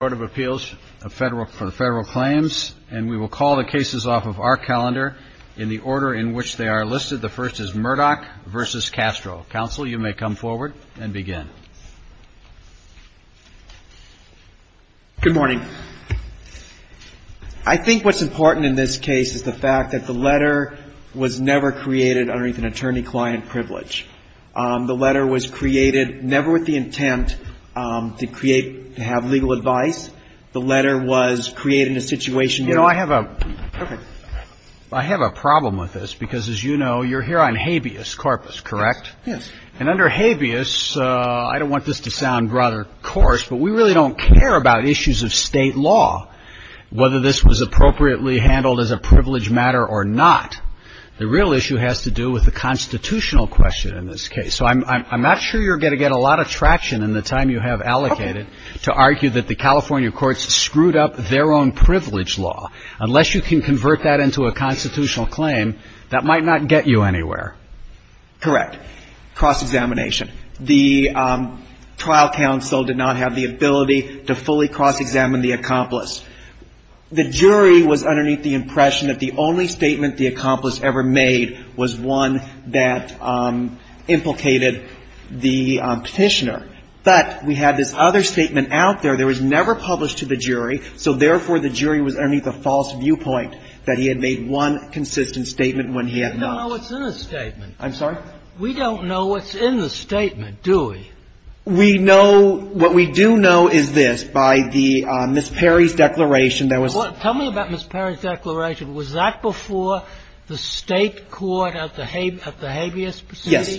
Court of Appeals for the federal claims and we will call the cases off of our calendar in the order in which they are listed. The first is Murdoch v. Castro. Counsel, you may come forward and begin. Good morning. I think what's important in this case is the fact that the letter was never created underneath an attorney-client privilege. The letter was created never with the intent to create, to have legal advice. The letter was created in a situation. You know, I have a I have a problem with this because, as you know, you're here on habeas corpus, correct? Yes. And under habeas, I don't want this to sound rather coarse, but we really don't care about issues of state law, whether this was appropriately handled as a privilege matter or not. The real issue has to do with the constitutional question in this case. So I'm not sure you're going to get a lot of traction in the time you have allocated to argue that the California courts screwed up their own privilege law unless you can convert that into a constitutional claim that might not get you anywhere. Correct. Cross-examination. The trial counsel did not have the ability to fully cross-examine the accomplice. The jury was underneath the impression that the only statement the accomplice ever made was one that implicated the Petitioner. But we had this other statement out there. There was never published to the jury. So, therefore, the jury was underneath a false viewpoint that he had made one consistent statement when he had not. We don't know what's in the statement. I'm sorry? We don't know what's in the statement, do we? We know — what we do know is this. By the — Ms. Perry's declaration, there was — Tell me about Ms. Perry's declaration. Was that before the State court at the habeas proceeding? Yes.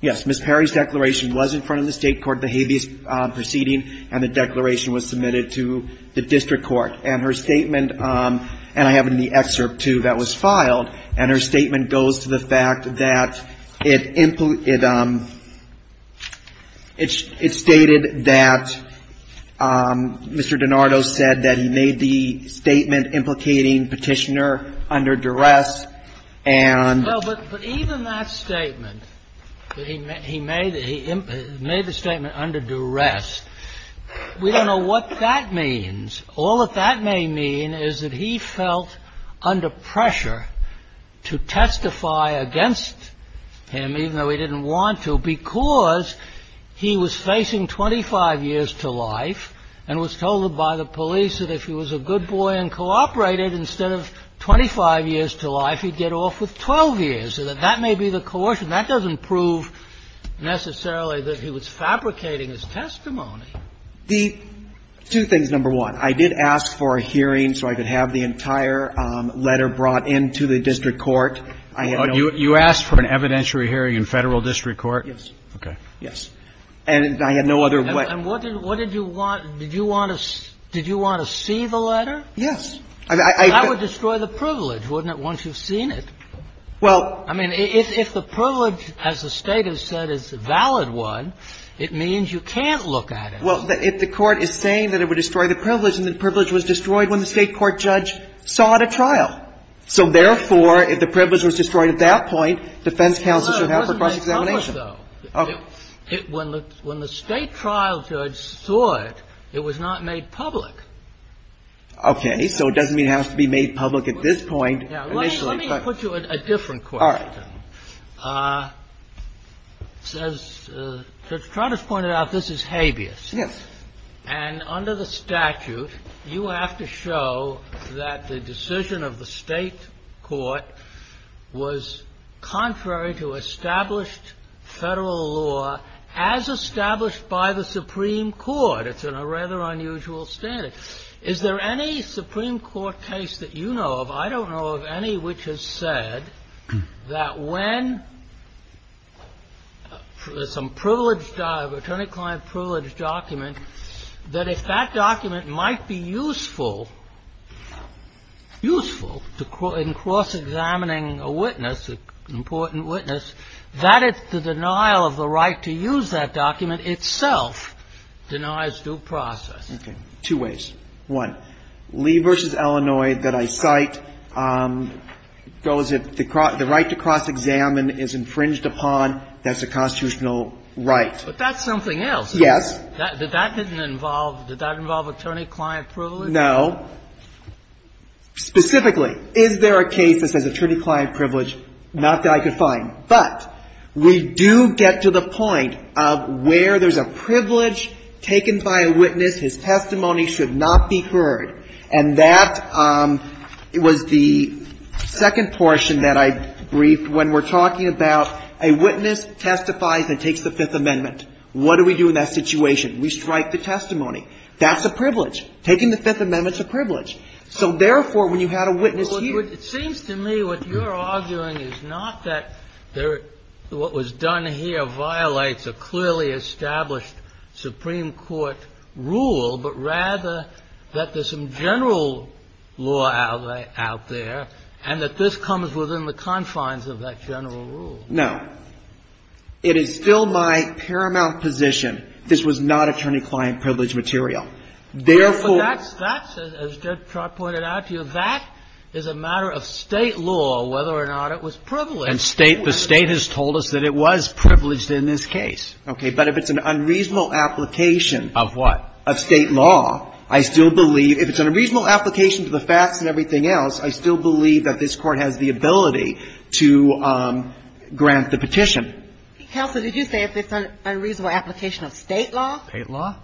Yes. Ms. Perry's declaration was in front of the State court at the habeas proceeding, and the declaration was submitted to the district court. And her statement — and I have it in the excerpt, too, that was filed. And her statement goes to the fact that it — it stated that Mr. DiNardo said that he made the statement implicating Petitioner under duress and — Well, but even that statement, that he made the — he made the statement under duress, we don't know what that means. All that that may mean is that he felt under pressure to testify against him, even though he didn't want to, because he was facing 25 years to life and was told by the police that if he was a good boy and cooperated, instead of 25 years to life, he'd get off with 12 years. So that that may be the coercion. That doesn't prove necessarily that he was fabricating his testimony. The two things, number one, I did ask for a hearing so I could have the entire letter brought in to the district court. I had no other way. You asked for an evidentiary hearing in Federal district court? Yes. Okay. Yes. And I had no other way. And what did you want — did you want to — did you want to see the letter? Yes. I mean, I — That would destroy the privilege, wouldn't it, once you've seen it? Well — I mean, if the privilege, as the State has said, is a valid one, it means you can't look at it. Well, if the Court is saying that it would destroy the privilege, then the privilege was destroyed when the State court judge saw it at trial. So therefore, if the privilege was destroyed at that point, defense counsel should have a cross-examination. It wasn't made public, though. Okay. When the State trial judge saw it, it was not made public. Okay. So it doesn't mean it has to be made public at this point, initially. Now, let me — let me put you a different question. All right. As Judge Trotter's pointed out, this is habeas. Yes. And under the statute, you have to show that the decision of the State court was contrary to established Federal law as established by the Supreme Court. It's a rather unusual standard. Is there any Supreme Court case that you know of? I don't know of any which has said that when some privileged — attorney-client-privileged document, that if that document might be useful, useful in cross-examining a witness, an important witness, that it's the denial of the right to use that document itself denies due process. Okay. Two ways. One, Lee v. Illinois that I cite goes if the right to cross-examine is infringed upon, that's a constitutional right. But that's something else. Yes. Did that involve attorney-client-privileged? No. Specifically, is there a case that says attorney-client-privileged? Not that I could find. But we do get to the point of where there's a privilege taken by a witness, his testimony should not be heard, and that was the second portion that I briefed when we're talking about a witness testifies and takes the Fifth Amendment. What do we do in that situation? We strike the testimony. That's a privilege. Taking the Fifth Amendment is a privilege. So therefore, when you had a witness here — It seems to me what you're arguing is not that what was done here violates a clearly established Supreme Court rule, but rather that there's some general law out there and that this comes within the confines of that general rule. No. It is still my paramount position this was not attorney-client-privileged material. Therefore — But that's — as Judge Trott pointed out to you, that is a matter of State law, whether or not it was privileged. And State — the State has told us that it was privileged in this case. Okay. But if it's an unreasonable application — Of what? Of State law, I still believe — if it's an unreasonable application to the facts and everything else, I still believe that this Court has the ability to grant the petition. Counsel, did you say if it's an unreasonable application of State law? State law.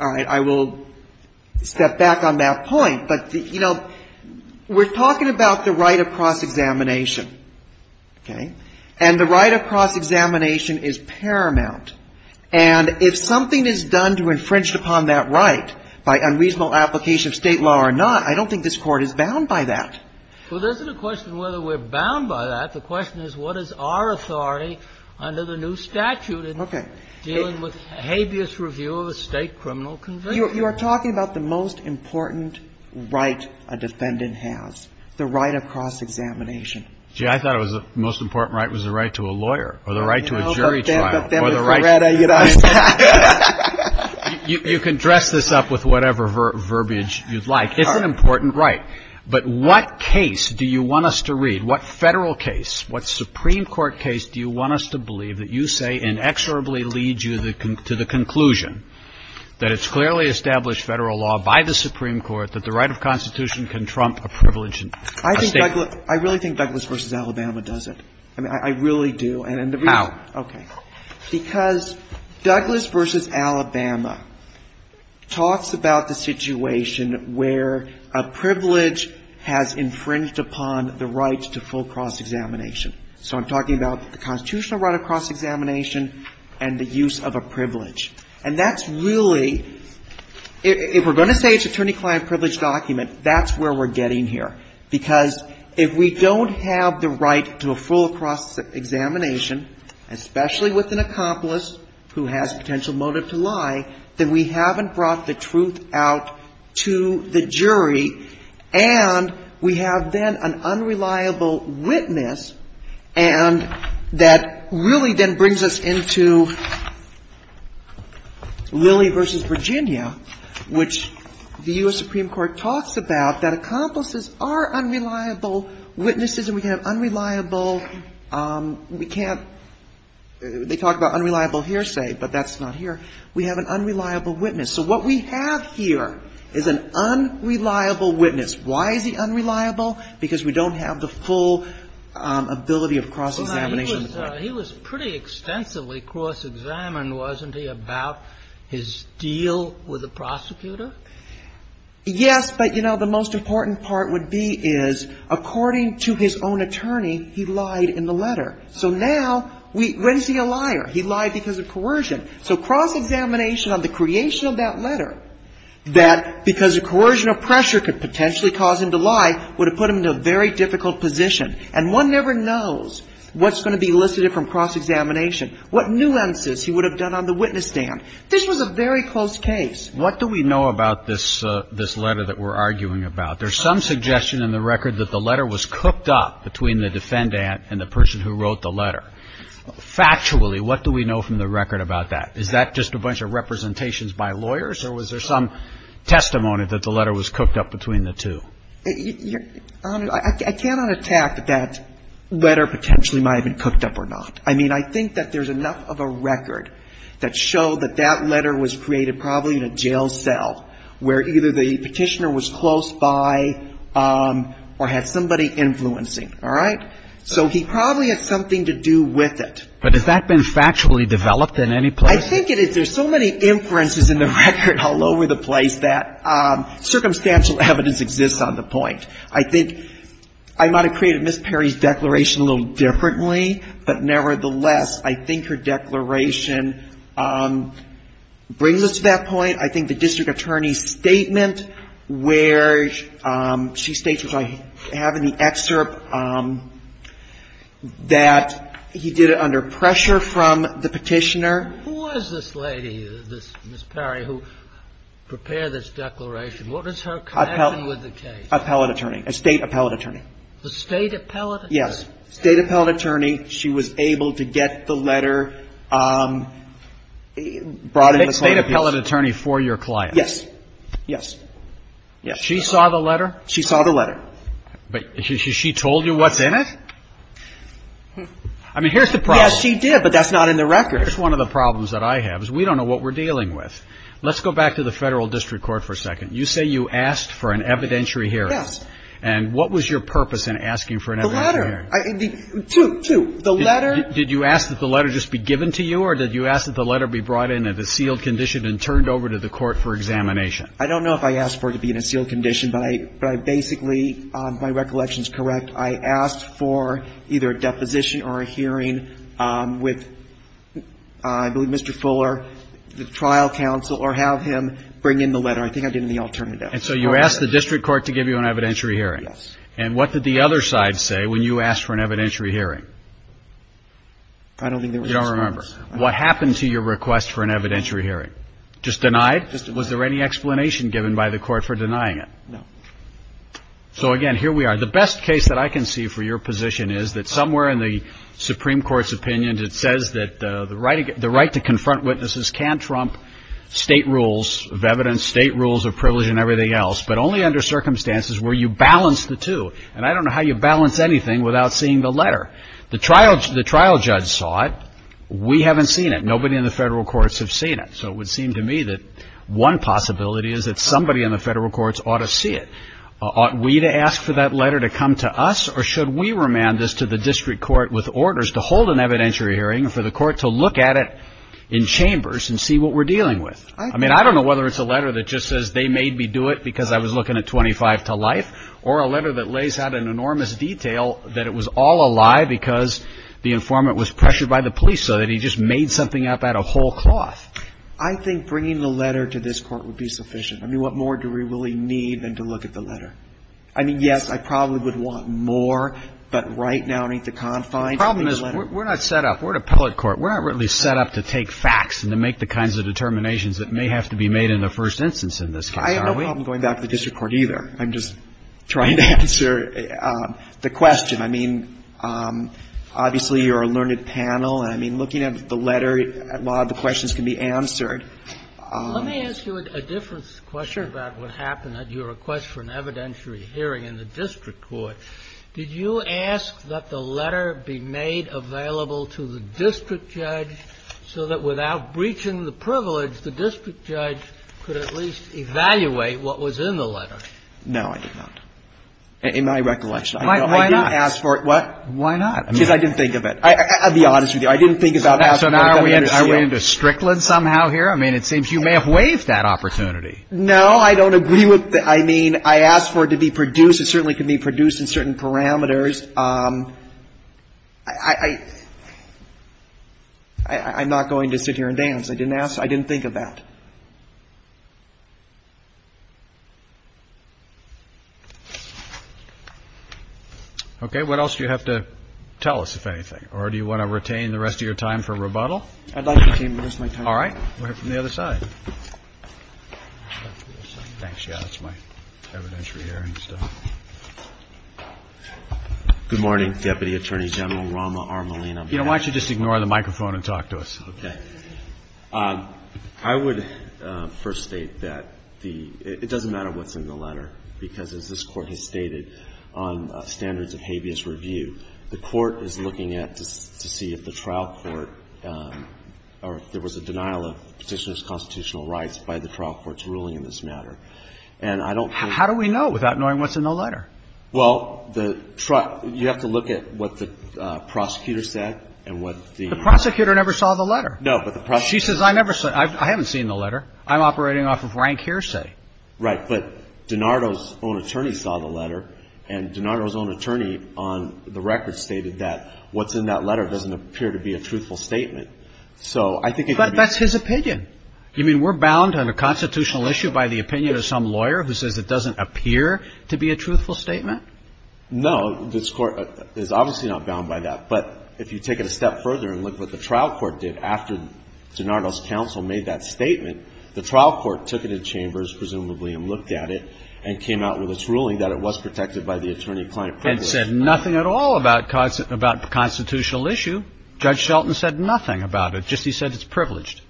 All right. I will step back on that point. But, you know, we're talking about the right of cross-examination. Okay. And the right of cross-examination is paramount. And if something is done to infringe upon that right by unreasonable application of State law or not, I don't think this Court is bound by that. Well, there's no question whether we're bound by that. The question is what is our authority under the new statute in dealing with habeas review of a State criminal conviction. You are talking about the most important right a defendant has, the right of cross-examination. Gee, I thought the most important right was the right to a lawyer or the right to a jury trial or the right to a — You know, the family faretta, you know. You can dress this up with whatever verbiage you'd like. It's an important right. But what case do you want us to read? What Federal case, what Supreme Court case do you want us to believe that you say inexorably leads you to the conclusion that it's clearly established Federal law by the Supreme Court that the right of constitution can trump a privilege in a State — I think Douglas — I really think Douglas v. Alabama does it. I mean, I really do. And the reason — How? Okay. Because Douglas v. Alabama talks about the situation where a privilege has infringed upon the right to full cross-examination. So I'm talking about the constitutional right of cross-examination and the use of a privilege. And that's really — if we're going to say it's an attorney-client privilege document, that's where we're getting here. Because if we don't have the right to a full cross-examination, especially with an accomplice who has potential motive to lie, then we haven't brought the truth out to the jury, and we have then an unreliable witness, and that really then brings us into Lilly v. Virginia, which the U.S. Supreme Court does not have the right Now, the U.S. Supreme Court talks about that accomplices are unreliable witnesses, and we have unreliable — we can't — they talk about unreliable hearsay, but that's not here. We have an unreliable witness. So what we have here is an unreliable witness. Why is he unreliable? Because we don't have the full ability of cross-examination. He was pretty extensively cross-examined, wasn't he, about his deal with the prosecutor? Yes, but, you know, the most important part would be is, according to his own attorney, he lied in the letter. So now we — when is he a liar? He lied because of coercion. So cross-examination on the creation of that letter, that because of coercion pressure could potentially cause him to lie, would have put him in a very difficult position. And one never knows what's going to be elicited from cross-examination, what nuances he would have done on the witness stand. This was a very close case. What do we know about this letter that we're arguing about? There's some suggestion in the record that the letter was cooked up between the defendant and the person who wrote the letter. Factually, what do we know from the record about that? Is that just a bunch of representations by lawyers, or was there some testimony that the letter was cooked up between the two? Your Honor, I cannot attack that letter potentially might have been cooked up or not. I mean, I think that there's enough of a record that showed that that letter was created probably in a jail cell, where either the Petitioner was close by or had somebody influencing, all right? So he probably had something to do with it. But has that been factually developed in any place? I think it is. There's so many inferences in the record all over the place that circumstantial evidence exists on the point. I think I might have created Ms. Perry's declaration a little differently, but nevertheless, I think her declaration brings us to that point. I think the district attorney's statement where she states, which I have in the excerpt, that he did it under pressure from the Petitioner. Who was this lady, this Ms. Perry, who prepared this declaration? What was her connection with the case? Appellate attorney. A State appellate attorney. A State appellate attorney? Yes. State appellate attorney. She was able to get the letter brought in the client's case. State appellate attorney for your client? Yes. Yes. Yes. She saw the letter? She saw the letter. But she told you what's in it? I mean, here's the problem. Yes, she did, but that's not in the record. That's one of the problems that I have, is we don't know what we're dealing with. Let's go back to the Federal District Court for a second. You say you asked for an evidentiary hearing. Yes. And what was your purpose in asking for an evidentiary hearing? The letter. Two, two. The letter. Did you ask that the letter just be given to you, or did you ask that the letter be brought in at a sealed condition and turned over to the Court for examination? I don't know if I asked for it to be in a sealed condition, but I basically, my recollection is correct. I asked for either a deposition or a hearing with, I believe, Mr. Fuller, the trial counsel, or have him bring in the letter. I think I did in the alternative. And so you asked the District Court to give you an evidentiary hearing? Yes. And what did the other side say when you asked for an evidentiary hearing? I don't think there was any response. You don't remember. What happened to your request for an evidentiary hearing? Just denied? Was there any explanation given by the Court for denying it? No. So, again, here we are. The best case that I can see for your position is that somewhere in the Supreme Court's opinion, it says that the right to confront witnesses can trump state rules of evidence, state rules of privilege, and everything else, but only under circumstances where you balance the two. And I don't know how you balance anything without seeing the letter. The trial judge saw it. We haven't seen it. Nobody in the federal courts have seen it. So it would seem to me that one possibility is that somebody in the federal courts ought to see it. Ought we to ask for that letter to come to us? Or should we remand this to the district court with orders to hold an evidentiary hearing for the court to look at it in chambers and see what we're dealing with? I mean, I don't know whether it's a letter that just says they made me do it because I was looking at 25 to life or a letter that lays out in enormous detail that it was all a lie because the informant was pressured by the police so that he just made something up out of whole cloth. I think bringing the letter to this Court would be sufficient. I mean, what more do we really need than to look at the letter? I mean, yes, I probably would want more. But right now, in the confines of the letter we're not set up. We're an appellate court. We're not really set up to take facts and to make the kinds of determinations that may have to be made in the first instance in this case. I have no problem going back to the district court either. I'm just trying to answer the question. I mean, obviously, you're a learned panel. And I mean, looking at the letter, a lot of the questions can be answered. Let me ask you a different question about what happened at your request for an evidentiary hearing in the district court. Did you ask that the letter be made available to the district judge so that without breaching the privilege, the district judge could at least evaluate what was in the letter? No, I did not, in my recollection. I didn't ask for it. Why not? Because I didn't think of it. I'll be honest with you. I didn't think about it. So now are we into Strickland somehow here? I mean, it seems you may have waived that opportunity. No, I don't agree with that. I mean, I asked for it to be produced. It certainly can be produced in certain parameters. I'm not going to sit here and dance. I didn't ask. I didn't think of that. Okay. What else do you have to tell us, if anything? Or do you want to retain the rest of your time for rebuttal? I'd like to retain the rest of my time. All right. We'll hear from the other side. Thanks. Yeah, that's my evidentiary hearing. Good morning, Deputy Attorney General Rama R. Molina. You know, why don't you just ignore the microphone and talk to us? Okay. I would first state that it doesn't matter what's in the letter because, as this is a trial court, there was a denial of Petitioner's constitutional rights by the trial court's ruling in this matter. And I don't think... How do we know without knowing what's in the letter? Well, you have to look at what the prosecutor said and what the... The prosecutor never saw the letter. No, but the prosecutor... She says, I haven't seen the letter. I'm operating off of rank hearsay. Right. But DiNardo's own attorney saw the letter, and DiNardo's own attorney on the record stated that what's in that letter doesn't appear to be a truthful statement. So I think it could be... But that's his opinion. You mean we're bound on a constitutional issue by the opinion of some lawyer who says it doesn't appear to be a truthful statement? No, this court is obviously not bound by that. But if you take it a step further and look what the trial court did after DiNardo's counsel made that statement, the trial court took it in chambers, presumably, and looked at it and came out with its ruling that it was protected by the attorney-client premise. Nothing at all about constitutional issue. Judge Shelton said nothing about it. Just he said it's privileged.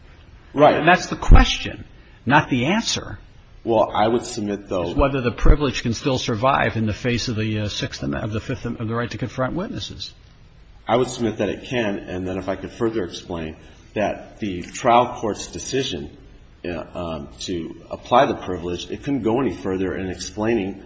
Right. And that's the question, not the answer. Well, I would submit, though... Whether the privilege can still survive in the face of the fifth of the right to confront witnesses. I would submit that it can. And then if I could further explain that the trial court's decision to apply the privilege, it couldn't go any further in explaining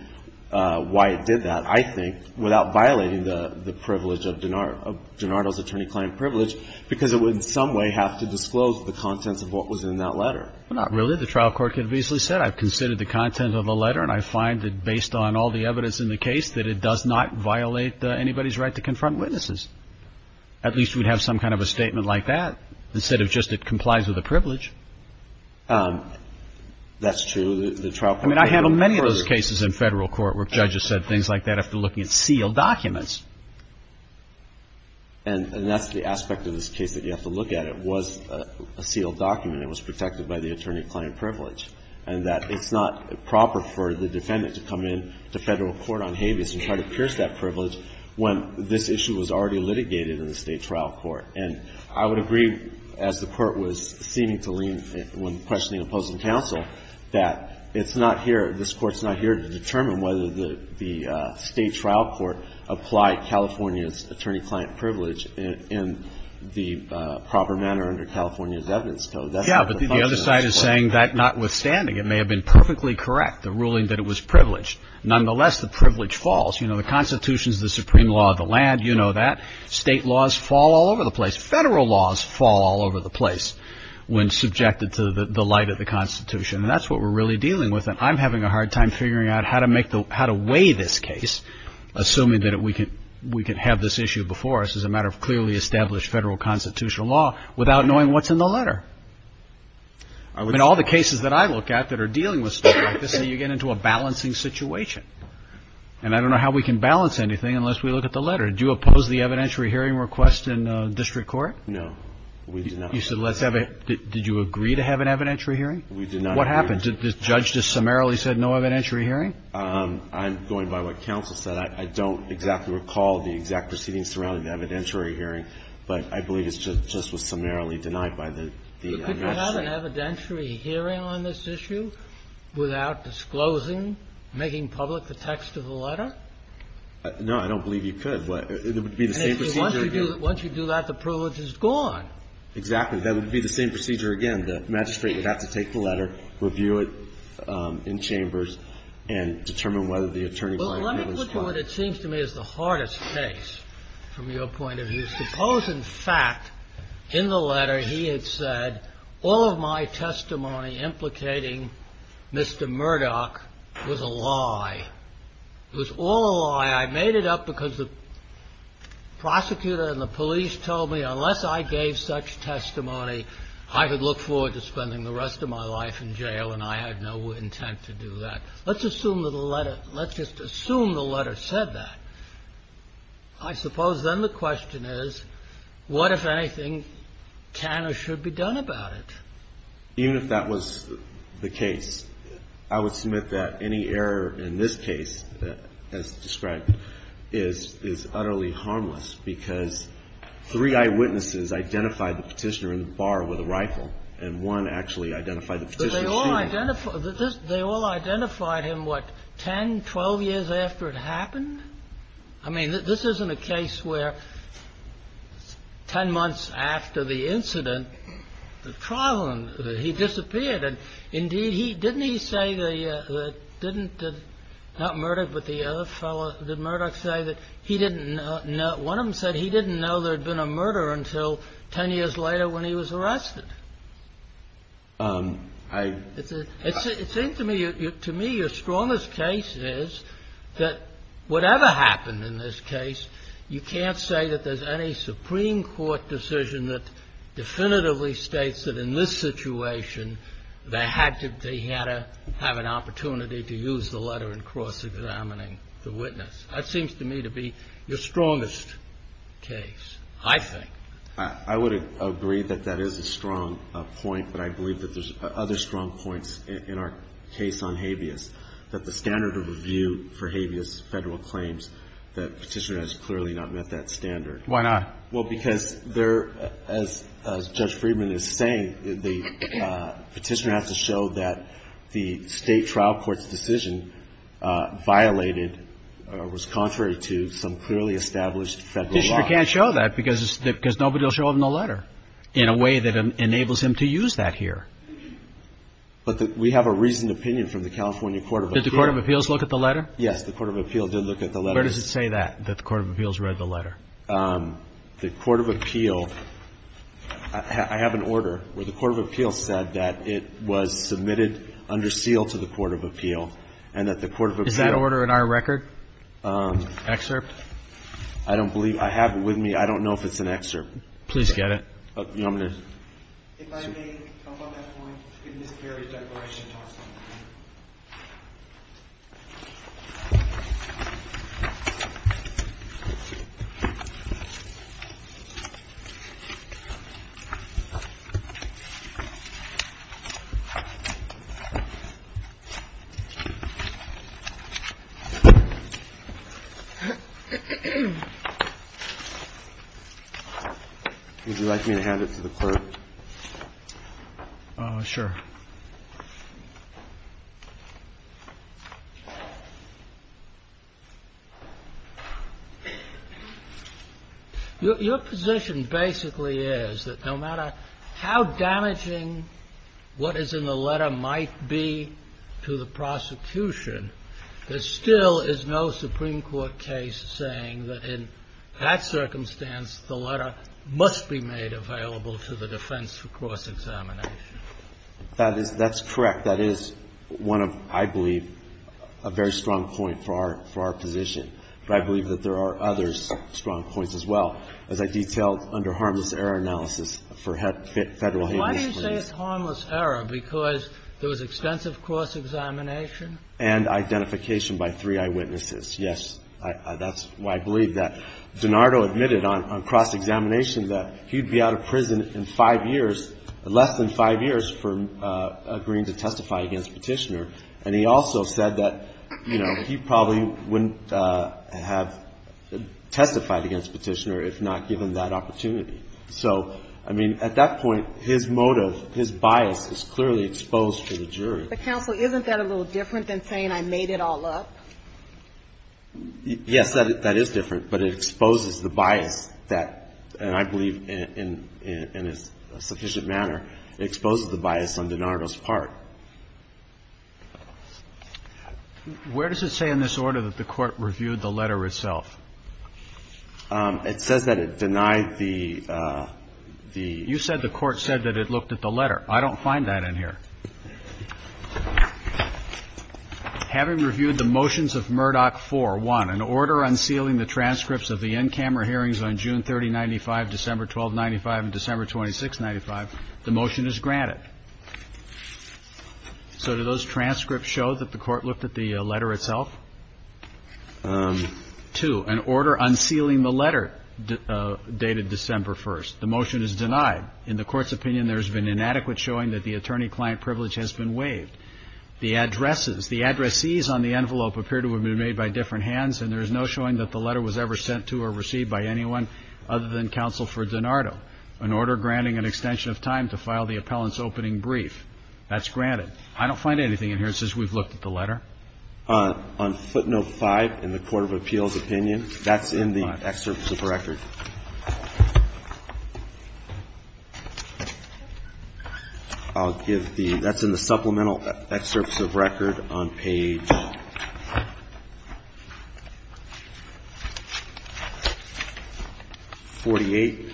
why it did that. I think, without violating the privilege of DiNardo's attorney-client privilege, because it would in some way have to disclose the contents of what was in that letter. Not really. The trial court could have easily said, I've considered the content of the letter, and I find that based on all the evidence in the case, that it does not violate anybody's right to confront witnesses. At least we'd have some kind of a statement like that, instead of just it complies with the privilege. That's true. The trial court... I mean, I handle many of those cases in federal court where judges said things like that, but I don't think that's the case that you have to look at if you're looking at sealed documents. And that's the aspect of this case that you have to look at. It was a sealed document. It was protected by the attorney-client privilege. And that it's not proper for the defendant to come in to federal court on habeas and try to pierce that privilege when this issue was already litigated in the State Trial Court. And I would agree, as the Court was seeming to lean, when questioning opposing counsel, that it's not here, this Court's not here to determine whether the State Trial Court applied California's attorney-client privilege in the proper manner under California's evidence code. Yeah, but the other side is saying that notwithstanding, it may have been perfectly correct, the ruling that it was privileged. Nonetheless, the privilege falls. You know, the Constitution's the supreme law of the land. You know that. State laws fall all over the place. Federal laws fall all over the place when subjected to the light of the Constitution. And that's what we're really dealing with. And I'm having a hard time figuring out how to weigh this case, assuming that we can have this issue before us as a matter of clearly established federal constitutional law, without knowing what's in the letter. In all the cases that I look at that are dealing with stuff like this, you get into a balancing situation. And I don't know how we can balance anything unless we look at the letter. Do you oppose the evidentiary hearing request in district court? No, we do not. You said let's have a – did you agree to have an evidentiary hearing? We did not. What happened? Did the judge just summarily say no evidentiary hearing? I'm going by what counsel said. I don't exactly recall the exact proceedings surrounding the evidentiary hearing, but I believe it just was summarily denied by the magistrate. Could you have an evidentiary hearing on this issue without disclosing, making public the text of the letter? No, I don't believe you could. It would be the same procedure again. Once you do that, the privilege is gone. Exactly. That would be the same procedure again. The magistrate would have to take the letter, review it in chambers, and determine whether the attorney might have been spot. Well, let me put to what it seems to me is the hardest case from your point of view. Suppose, in fact, in the letter he had said all of my testimony implicating Mr. Murdoch was a lie. It was all a lie. I made it up because the prosecutor and the police told me unless I gave such testimony, I could look forward to spending the rest of my life in jail, and I had no intent to do that. Let's assume that the letter – let's just assume the letter said that. I suppose then the question is, what, if anything, can or should be done about it? Even if that was the case, I would submit that any error in this case as described is utterly harmless, because three eyewitnesses identified the Petitioner in the bar with a rifle, and one actually identified the Petitioner's shooter. But they all identified – they all identified him, what, 10, 12 years after it happened? I mean, this isn't a case where 10 months after the incident, the trial ended. He disappeared. Indeed, didn't he say that – not Murdoch, but the other fellow – did Murdoch say that he didn't know – one of them said he didn't know there had been a murder until 10 years later when he was arrested. It seems to me – to me, your strongest case is that whatever happened in this case, you can't say that there's any Supreme Court decision that definitively states that in this situation, they had to – they had to have an opportunity to use the letter in cross-examining the witness. That seems to me to be your strongest case, I think. I would agree that that is a strong point, but I believe that there's other strong points in our case on habeas, that the standard of review for habeas Federal claims, that Petitioner has clearly not met that standard. Why not? Well, because there – as Judge Friedman is saying, the Petitioner has to show that the state trial court's decision violated or was contrary to some clearly established Federal law. Petitioner can't show that because nobody will show him the letter in a way that enables him to use that here. But we have a reasoned opinion from the California Court of Appeals. Did the Court of Appeals look at the letter? Yes, the Court of Appeals did look at the letter. Where does it say that, that the Court of Appeals read the letter? The Court of Appeals – I have an order where the Court of Appeals said that it was submitted under seal to the Court of Appeals, and that the Court of Appeals – Is that order in our record? Excerpt? I don't believe – I have it with me. I don't know if it's an excerpt. Please get it. I'm going to – If I may, on that point, Ms. Perry's declaration talks on that, too. Would you like me to hand it to the clerk? Sure. Your position basically is that no matter how damaging what is in the letter might be to the prosecution, there still is no Supreme Court case saying that in that case, the Supreme Court is not responsible for the offense for cross-examination. That is – that's correct. That is one of, I believe, a very strong point for our – for our position. But I believe that there are others strong points as well, as I detailed under harmless error analysis for Federal handlers. Why do you say it's harmless error? Because there was extensive cross-examination? And identification by three eyewitnesses. Yes, that's why I believe that. DiNardo admitted on cross-examination that he'd be out of prison in five years, less than five years, for agreeing to testify against Petitioner. And he also said that, you know, he probably wouldn't have testified against Petitioner if not given that opportunity. So, I mean, at that point, his motive, his bias is clearly exposed to the jury. But, counsel, isn't that a little different than saying I made it all up? Yes, that is different. But it exposes the bias that, and I believe in a sufficient manner, exposes the bias on DiNardo's part. Where does it say in this order that the Court reviewed the letter itself? It says that it denied the – the – You said the Court said that it looked at the letter. I don't find that in here. Having reviewed the motions of Murdoch 4.1, an order unsealing the transcripts of the in-camera hearings on June 30, 1995, December 12, 1995, and December 26, 1995, the motion is granted. So do those transcripts show that the Court looked at the letter itself? Two, an order unsealing the letter dated December 1st. The motion is denied. In the Court's opinion, there has been inadequate showing that the attorney-client privilege has been waived. The addresses – the addressees on the envelope appear to have been made by different hands, and there is no showing that the letter was ever sent to or received by anyone other than counsel for DiNardo. An order granting an extension of time to file the appellant's opening brief. That's granted. I don't find anything in here that says we've looked at the letter. On footnote 5 in the Court of Appeals opinion, that's in the excerpt of the record. I'll give the – that's in the supplemental excerpts of record on page 48.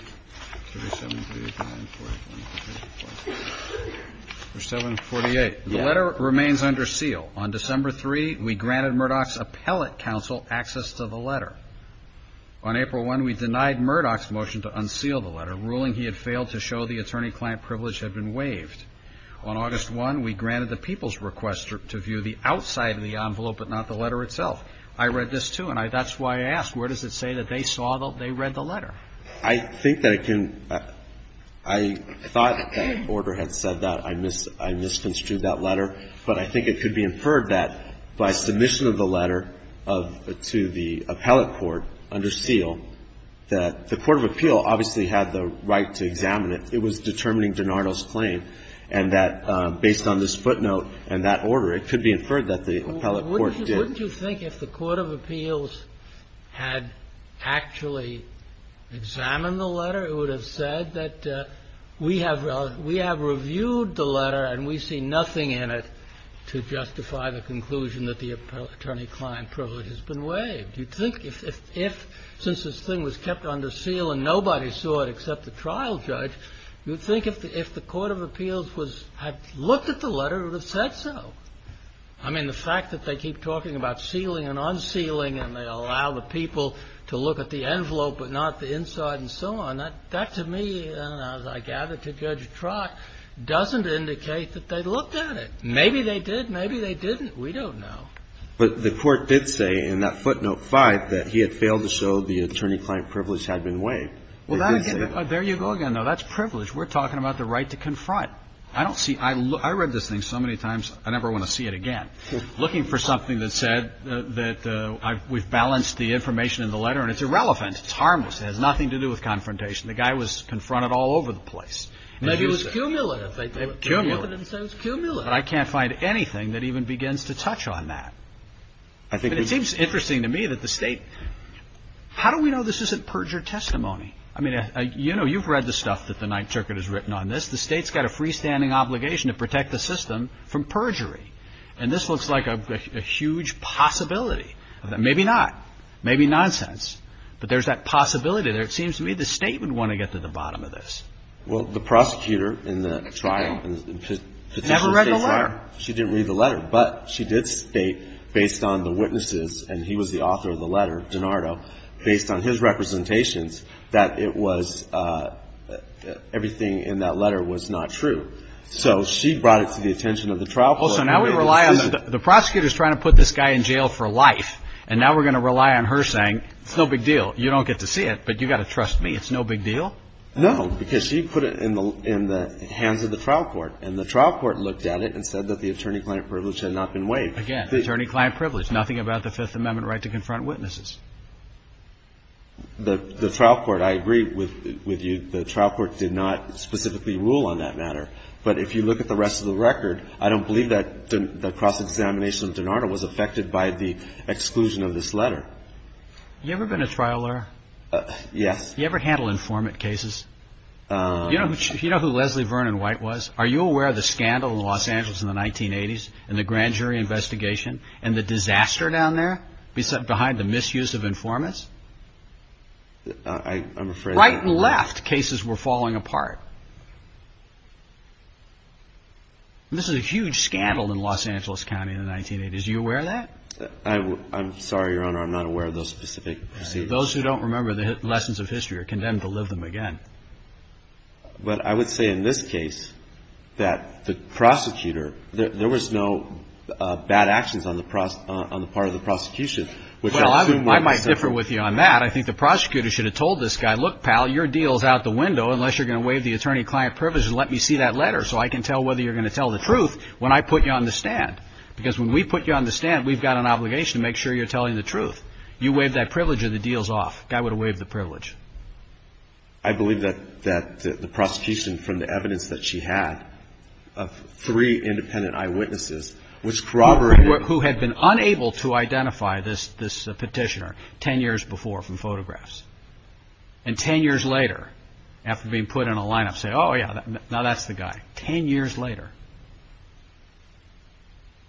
The letter remains under seal. On December 3, we granted Murdoch's appellate counsel access to the letter. On April 1, we denied Murdoch's motion to unseal the letter, ruling he had failed to show the attorney-client privilege had been waived. On August 1, we granted the people's request to view the outside of the envelope but not the letter itself. I read this, too, and I – that's why I asked. Where does it say that they saw the – they read the letter? I think that it can – I thought that that order had said that. I misconstrued that letter, but I think it could be inferred that by submission of the letter of – to the appellate court under seal, that the Court of Appeal obviously had the right to examine it. It was determining DiNardo's claim, and that based on this footnote and that order, it could be inferred that the appellate court did. Wouldn't you think if the Court of Appeals had actually examined the letter, it would have said that we have – we have reviewed the letter and we see nothing in it to justify the conclusion that the attorney-client privilege has been waived? You'd think if – since this thing was kept under seal and nobody saw it except the trial judge, you'd think if the Court of Appeals was – had looked at the letter, it would have said so. I mean, the fact that they keep talking about sealing and unsealing and they allow the people to look at the envelope but not the inside and so on, that to me, as I gather, to Judge Trock, doesn't indicate that they looked at it. Maybe they did, maybe they didn't. We don't know. But the court did say in that footnote 5 that he had failed to show the attorney-client privilege had been waived. Well, that again – there you go again, though. That's privilege. We're talking about the right to confront. I don't see – I read this thing so many times, I never want to see it again, looking for something that said that we've balanced the information in the letter and it's irrelevant, it's harmless, it has nothing to do with confrontation. The guy was confronted all over the place. Maybe it was cumulative. Cumulative. They looked at it and said it was cumulative. But I can't find anything that even begins to touch on that. But it seems interesting to me that the state – how do we know this isn't perjure testimony? I mean, you know, you've read the stuff that the Ninth Circuit has written on this. The state's got a freestanding obligation to protect the system from perjury. And this looks like a huge possibility. Maybe not. Maybe nonsense. But there's that possibility there. It seems to me the state would want to get to the bottom of this. Well, the prosecutor in the trial – Never read the letter. She didn't read the letter. But she did state, based on the witnesses, and he was the author of the letter, DiNardo, based on his representations, that it was – everything in that letter was not true. So she brought it to the attention of the trial court. Also, now we rely on – the prosecutor's trying to put this guy in jail for life. And now we're going to rely on her saying, it's no big deal. You don't get to see it, but you've got to trust me. It's no big deal. No, because she put it in the hands of the trial court. And the trial court looked at it and said that the attorney-client privilege had not been waived. Again, attorney-client privilege. Nothing about the Fifth Amendment right to confront witnesses. The trial court – I agree with you. The trial court did not specifically rule on that matter. But if you look at the rest of the record, I don't believe that the cross-examination of DiNardo was affected by the exclusion of this letter. Have you ever been a trial lawyer? Yes. Have you ever handled informant cases? Do you know who Leslie Vernon White was? Are you aware of the scandal in Los Angeles in the 1980s and the grand jury investigation and the disaster down there behind the misuse of informants? I'm afraid not. Right and left cases were falling apart. And this is a huge scandal in Los Angeles County in the 1980s. Are you aware of that? I'm sorry, Your Honor. I'm not aware of those specific proceedings. Those who don't remember the lessons of history are condemned to live them again. But I would say in this case that the prosecutor – there was no bad actions on the part of the prosecution. Well, I might differ with you on that. I think the prosecutor should have told this guy, look, pal, your deal is out the window unless you're going to waive the attorney-client privilege and let me see that letter so I can tell whether you're going to tell the truth when I put you on the stand. Because when we put you on the stand, we've got an obligation to make sure you're telling the truth. You waive that privilege or the deal's off. The guy would have waived the privilege. I believe that the prosecution from the evidence that she had of three independent eyewitnesses was corroborating – Who had been unable to identify this petitioner ten years before from photographs. And ten years later, after being put in a lineup, say, oh yeah, now that's the guy. Ten years later.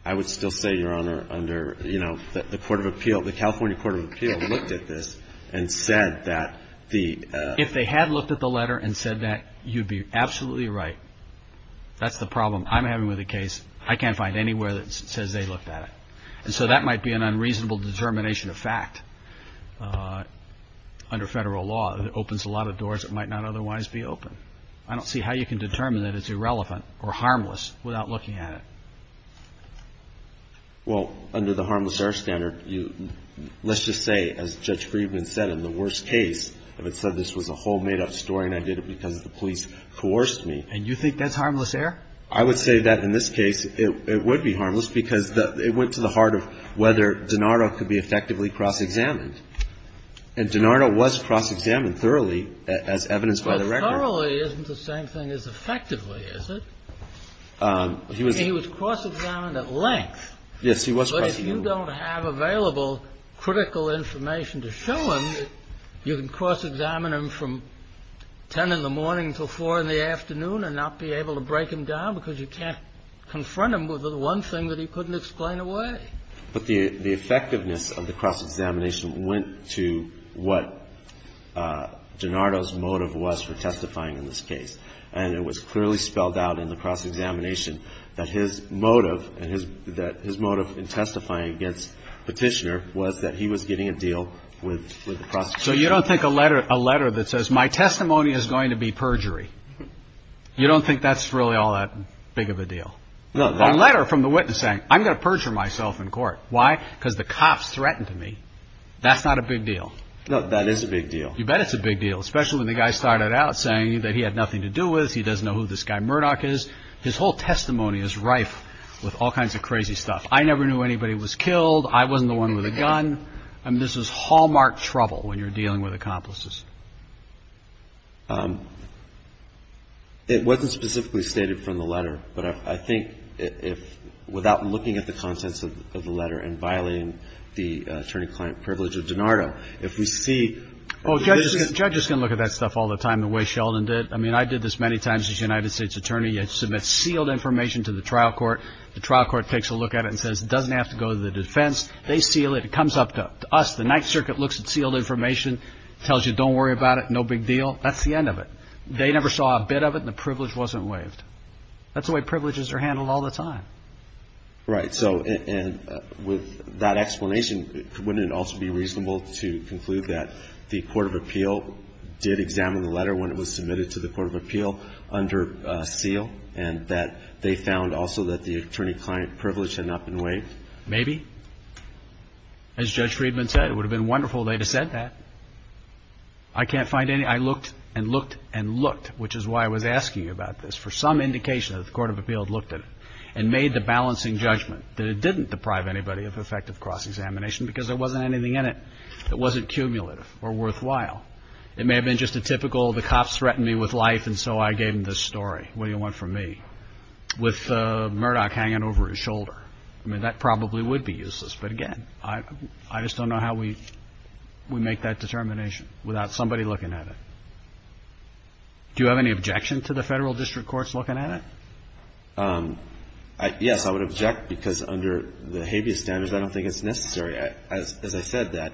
I would still say, Your Honor, under, you know, the Court of Appeal – the California Court of Appeal looked at this and said that the – If they had looked at the letter and said that, you'd be absolutely right. That's the problem I'm having with the case. I can't find anywhere that says they looked at it. And so that might be an unreasonable determination of fact. Under federal law, it opens a lot of doors that might not otherwise be open. I don't see how you can determine that it's irrelevant or harmless without looking at it. Well, under the harmless error standard, let's just say, as Judge Friedman said, in the worst case, if it said this was a whole made-up story and I did it because the police coerced me – And you think that's harmless error? I would say that in this case, it would be harmless because it went to the heart of whether DiNardo could be effectively cross-examined. But cross-examining thoroughly isn't the same thing as effectively, is it? He was cross-examined at length. Yes, he was cross-examined. But if you don't have available critical information to show him, you can cross-examine him from 10 in the morning until 4 in the afternoon and not be able to break him down because you can't confront him with the one thing that he couldn't explain away. But the effectiveness of the cross-examination went to what DiNardo's motive was for testifying in this case. And it was clearly spelled out in the cross-examination that his motive and his – that his motive in testifying against Petitioner was that he was getting a deal with the prosecution. So you don't think a letter – a letter that says, my testimony is going to be perjury, you don't think that's really all that big of a deal? No. A letter from the witness saying, I'm going to perjure myself in court. Why? Because the cops threatened me. That's not a big deal. No, that is a big deal. You bet it's a big deal, especially when the guy started out saying that he had nothing to do with, he doesn't know who this guy Murdoch is. His whole testimony is rife with all kinds of crazy stuff. I never knew anybody was killed, I wasn't the one with a gun. And this is hallmark trouble when you're dealing with accomplices. It wasn't specifically stated from the letter, but I think if – without looking at the contents of the letter and violating the attorney-client privilege of DiNardo, if we see – Judges can look at that stuff all the time, the way Sheldon did. I mean, I did this many times as a United States attorney. You had to submit sealed information to the trial court. The trial court takes a look at it and says, it doesn't have to go to the defense. They seal it. It comes up to us. The Ninth Circuit looks at sealed information, tells you don't worry about it. No big deal. That's the end of it. They never saw a bit of it and the privilege wasn't waived. That's the way privileges are handled all the time. Right. So with that explanation, wouldn't it also be reasonable to conclude that the court of appeal did examine the letter when it was submitted to the court of appeal under seal and that they found also that the attorney-client privilege had not been waived? Maybe. As Judge Friedman said, it would have been wonderful if they had said that. I can't find any. I looked and looked and looked, which is why I was asking you about this, for some indication that the court of appeal had looked at it and made the balancing judgment that it didn't deprive anybody of effective cross-examination because there wasn't anything in it that wasn't cumulative or worthwhile. It may have been just a typical, the cops threatened me with life and so I gave them this story. What do you want from me? With Murdoch hanging over his shoulder. I mean, that probably would be useless. But again, I just don't know how we make that determination without somebody looking at it. Do you have any objection to the Federal District Courts looking at it? Yes, I would object because under the habeas standards, I don't think it's necessary. As I said, that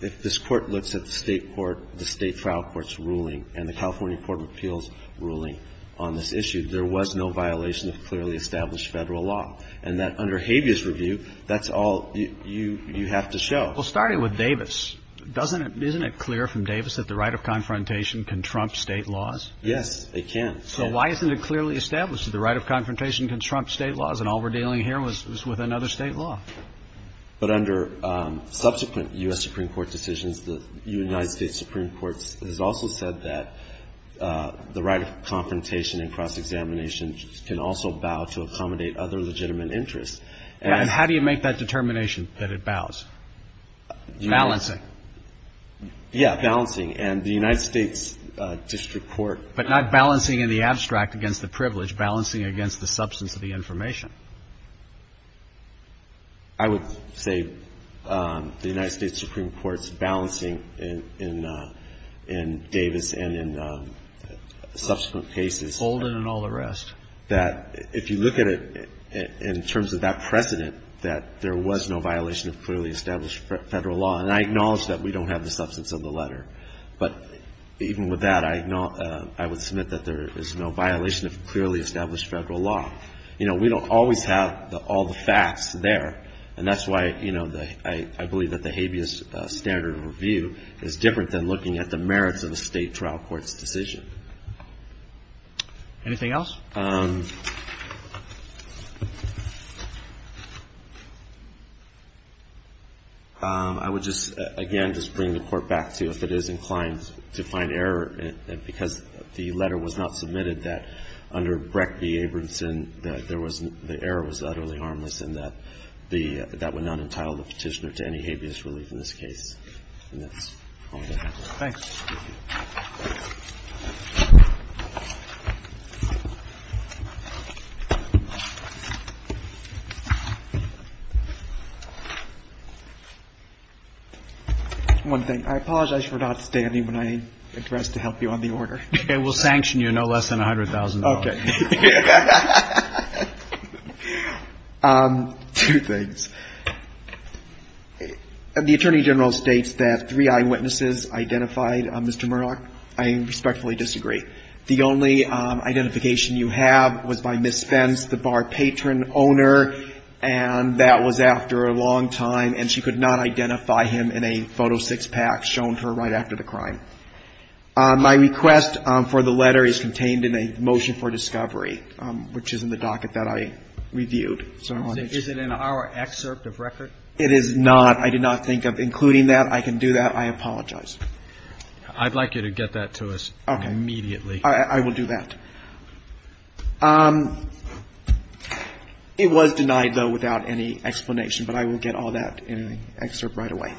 if this Court looks at the State court, the State trial court's ruling and the California court of appeals' ruling on this issue, there was no violation of clearly established Federal law. And that under habeas review, that's all you have to show. Well, starting with Davis, doesn't it, isn't it clear from Davis that the right of confrontation can trump State laws? Yes, it can. So why isn't it clearly established that the right of confrontation can trump State laws and all we're dealing here was with another State law? But under subsequent U.S. Supreme Court decisions, the United States Supreme Court has also said that the right of confrontation and cross-examination can also bow to accommodate other legitimate interests. And how do you make that determination that it bows? Balancing. Yes, balancing. And the United States District Court. But not balancing in the abstract against the privilege, balancing against the substance of the information. I would say the United States Supreme Court's balancing in Davis and in subsequent cases. Holden and all the rest. That if you look at it in terms of that precedent, that there was no violation of clearly established Federal law. And I acknowledge that we don't have the substance of the letter. But even with that, I would submit that there is no violation of clearly established Federal law. You know, we don't always have all the facts there. And that's why, you know, I believe that the habeas standard review is different than looking at the merits of a State trial court's decision. Anything else? I would just, again, just bring the Court back to if it is inclined to find error, because the letter was not submitted that under Breck v. Abramson, that there was the error was utterly harmless and that the that would not entitle the Petitioner to any habeas relief in this case. And that's all I have. Thanks. One thing. I apologize for not standing when I addressed to help you on the order. It will sanction you no less than $100,000. Okay. Two things. The Attorney General states that three eyewitnesses identified Mr. Murdock. I respectfully disagree. The only identification you have was by Miss Spence, the bar patron owner, and that was after a long time, and she could not identify him in a photo six-pack shown to her right after the crime. My request for the letter is contained in a motion for discovery. It's in the docket that I reviewed. Is it in our excerpt of record? It is not. I did not think of including that. I can do that. I apologize. I'd like you to get that to us immediately. Okay. I will do that. It was denied, though, without any explanation, but I will get all that in an excerpt right away.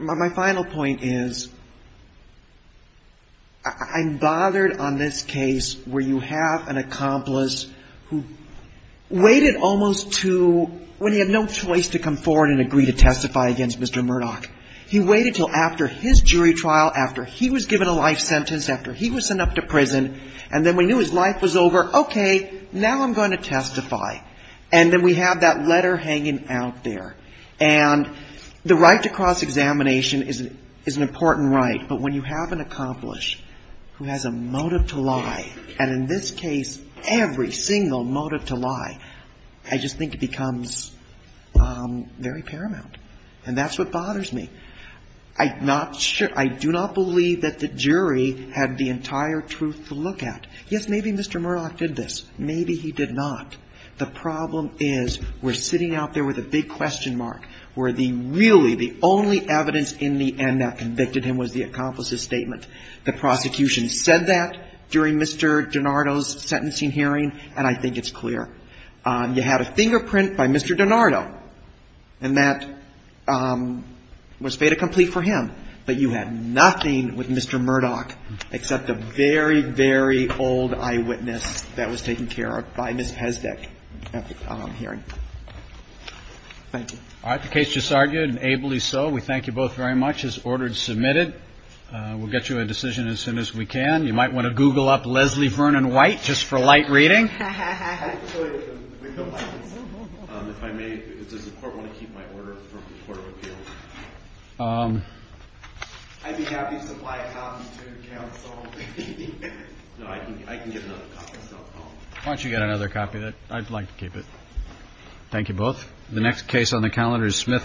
My final point is I'm bothered on this case where you have an accomplice who waited almost to, when he had no choice to come forward and agree to testify against Mr. Murdock. He waited until after his jury trial, after he was given a life sentence, after he was sent up to prison, and then we knew his life was over, okay, now I'm going to testify. And then we have that letter hanging out there. And the right to cross-examination is an important right, but when you have an accomplice who has a motive to lie, and in this case, every single motive to lie, I just think it becomes very paramount. And that's what bothers me. I do not believe that the jury had the entire truth to look at. Yes, maybe Mr. Murdock did this. Maybe he did not. The problem is we're sitting out there with a big question mark where the really the only evidence in the end that convicted him was the accomplice's statement. The prosecution said that during Mr. DiNardo's sentencing hearing, and I think it's clear. You had a fingerprint by Mr. DiNardo, and that was fait accompli for him, but you had nothing with Mr. Murdock except a very, very old eyewitness that was taken care of by Ms. Pesdek at the hearing. Thank you. All right. The case just argued, and ably so. We thank you both very much. It's ordered and submitted. We'll get you a decision as soon as we can. You might want to Google up Leslie Vernon White just for light reading. Actually, we don't like this. If I may, does the Court want to keep my order from the Court of Appeals? I'd be happy to supply a copy to counsel. No, I can get another copy. Why don't you get another copy? I'd like to keep it. Thank you both. The next case on the calendar is Smith v. Lewis.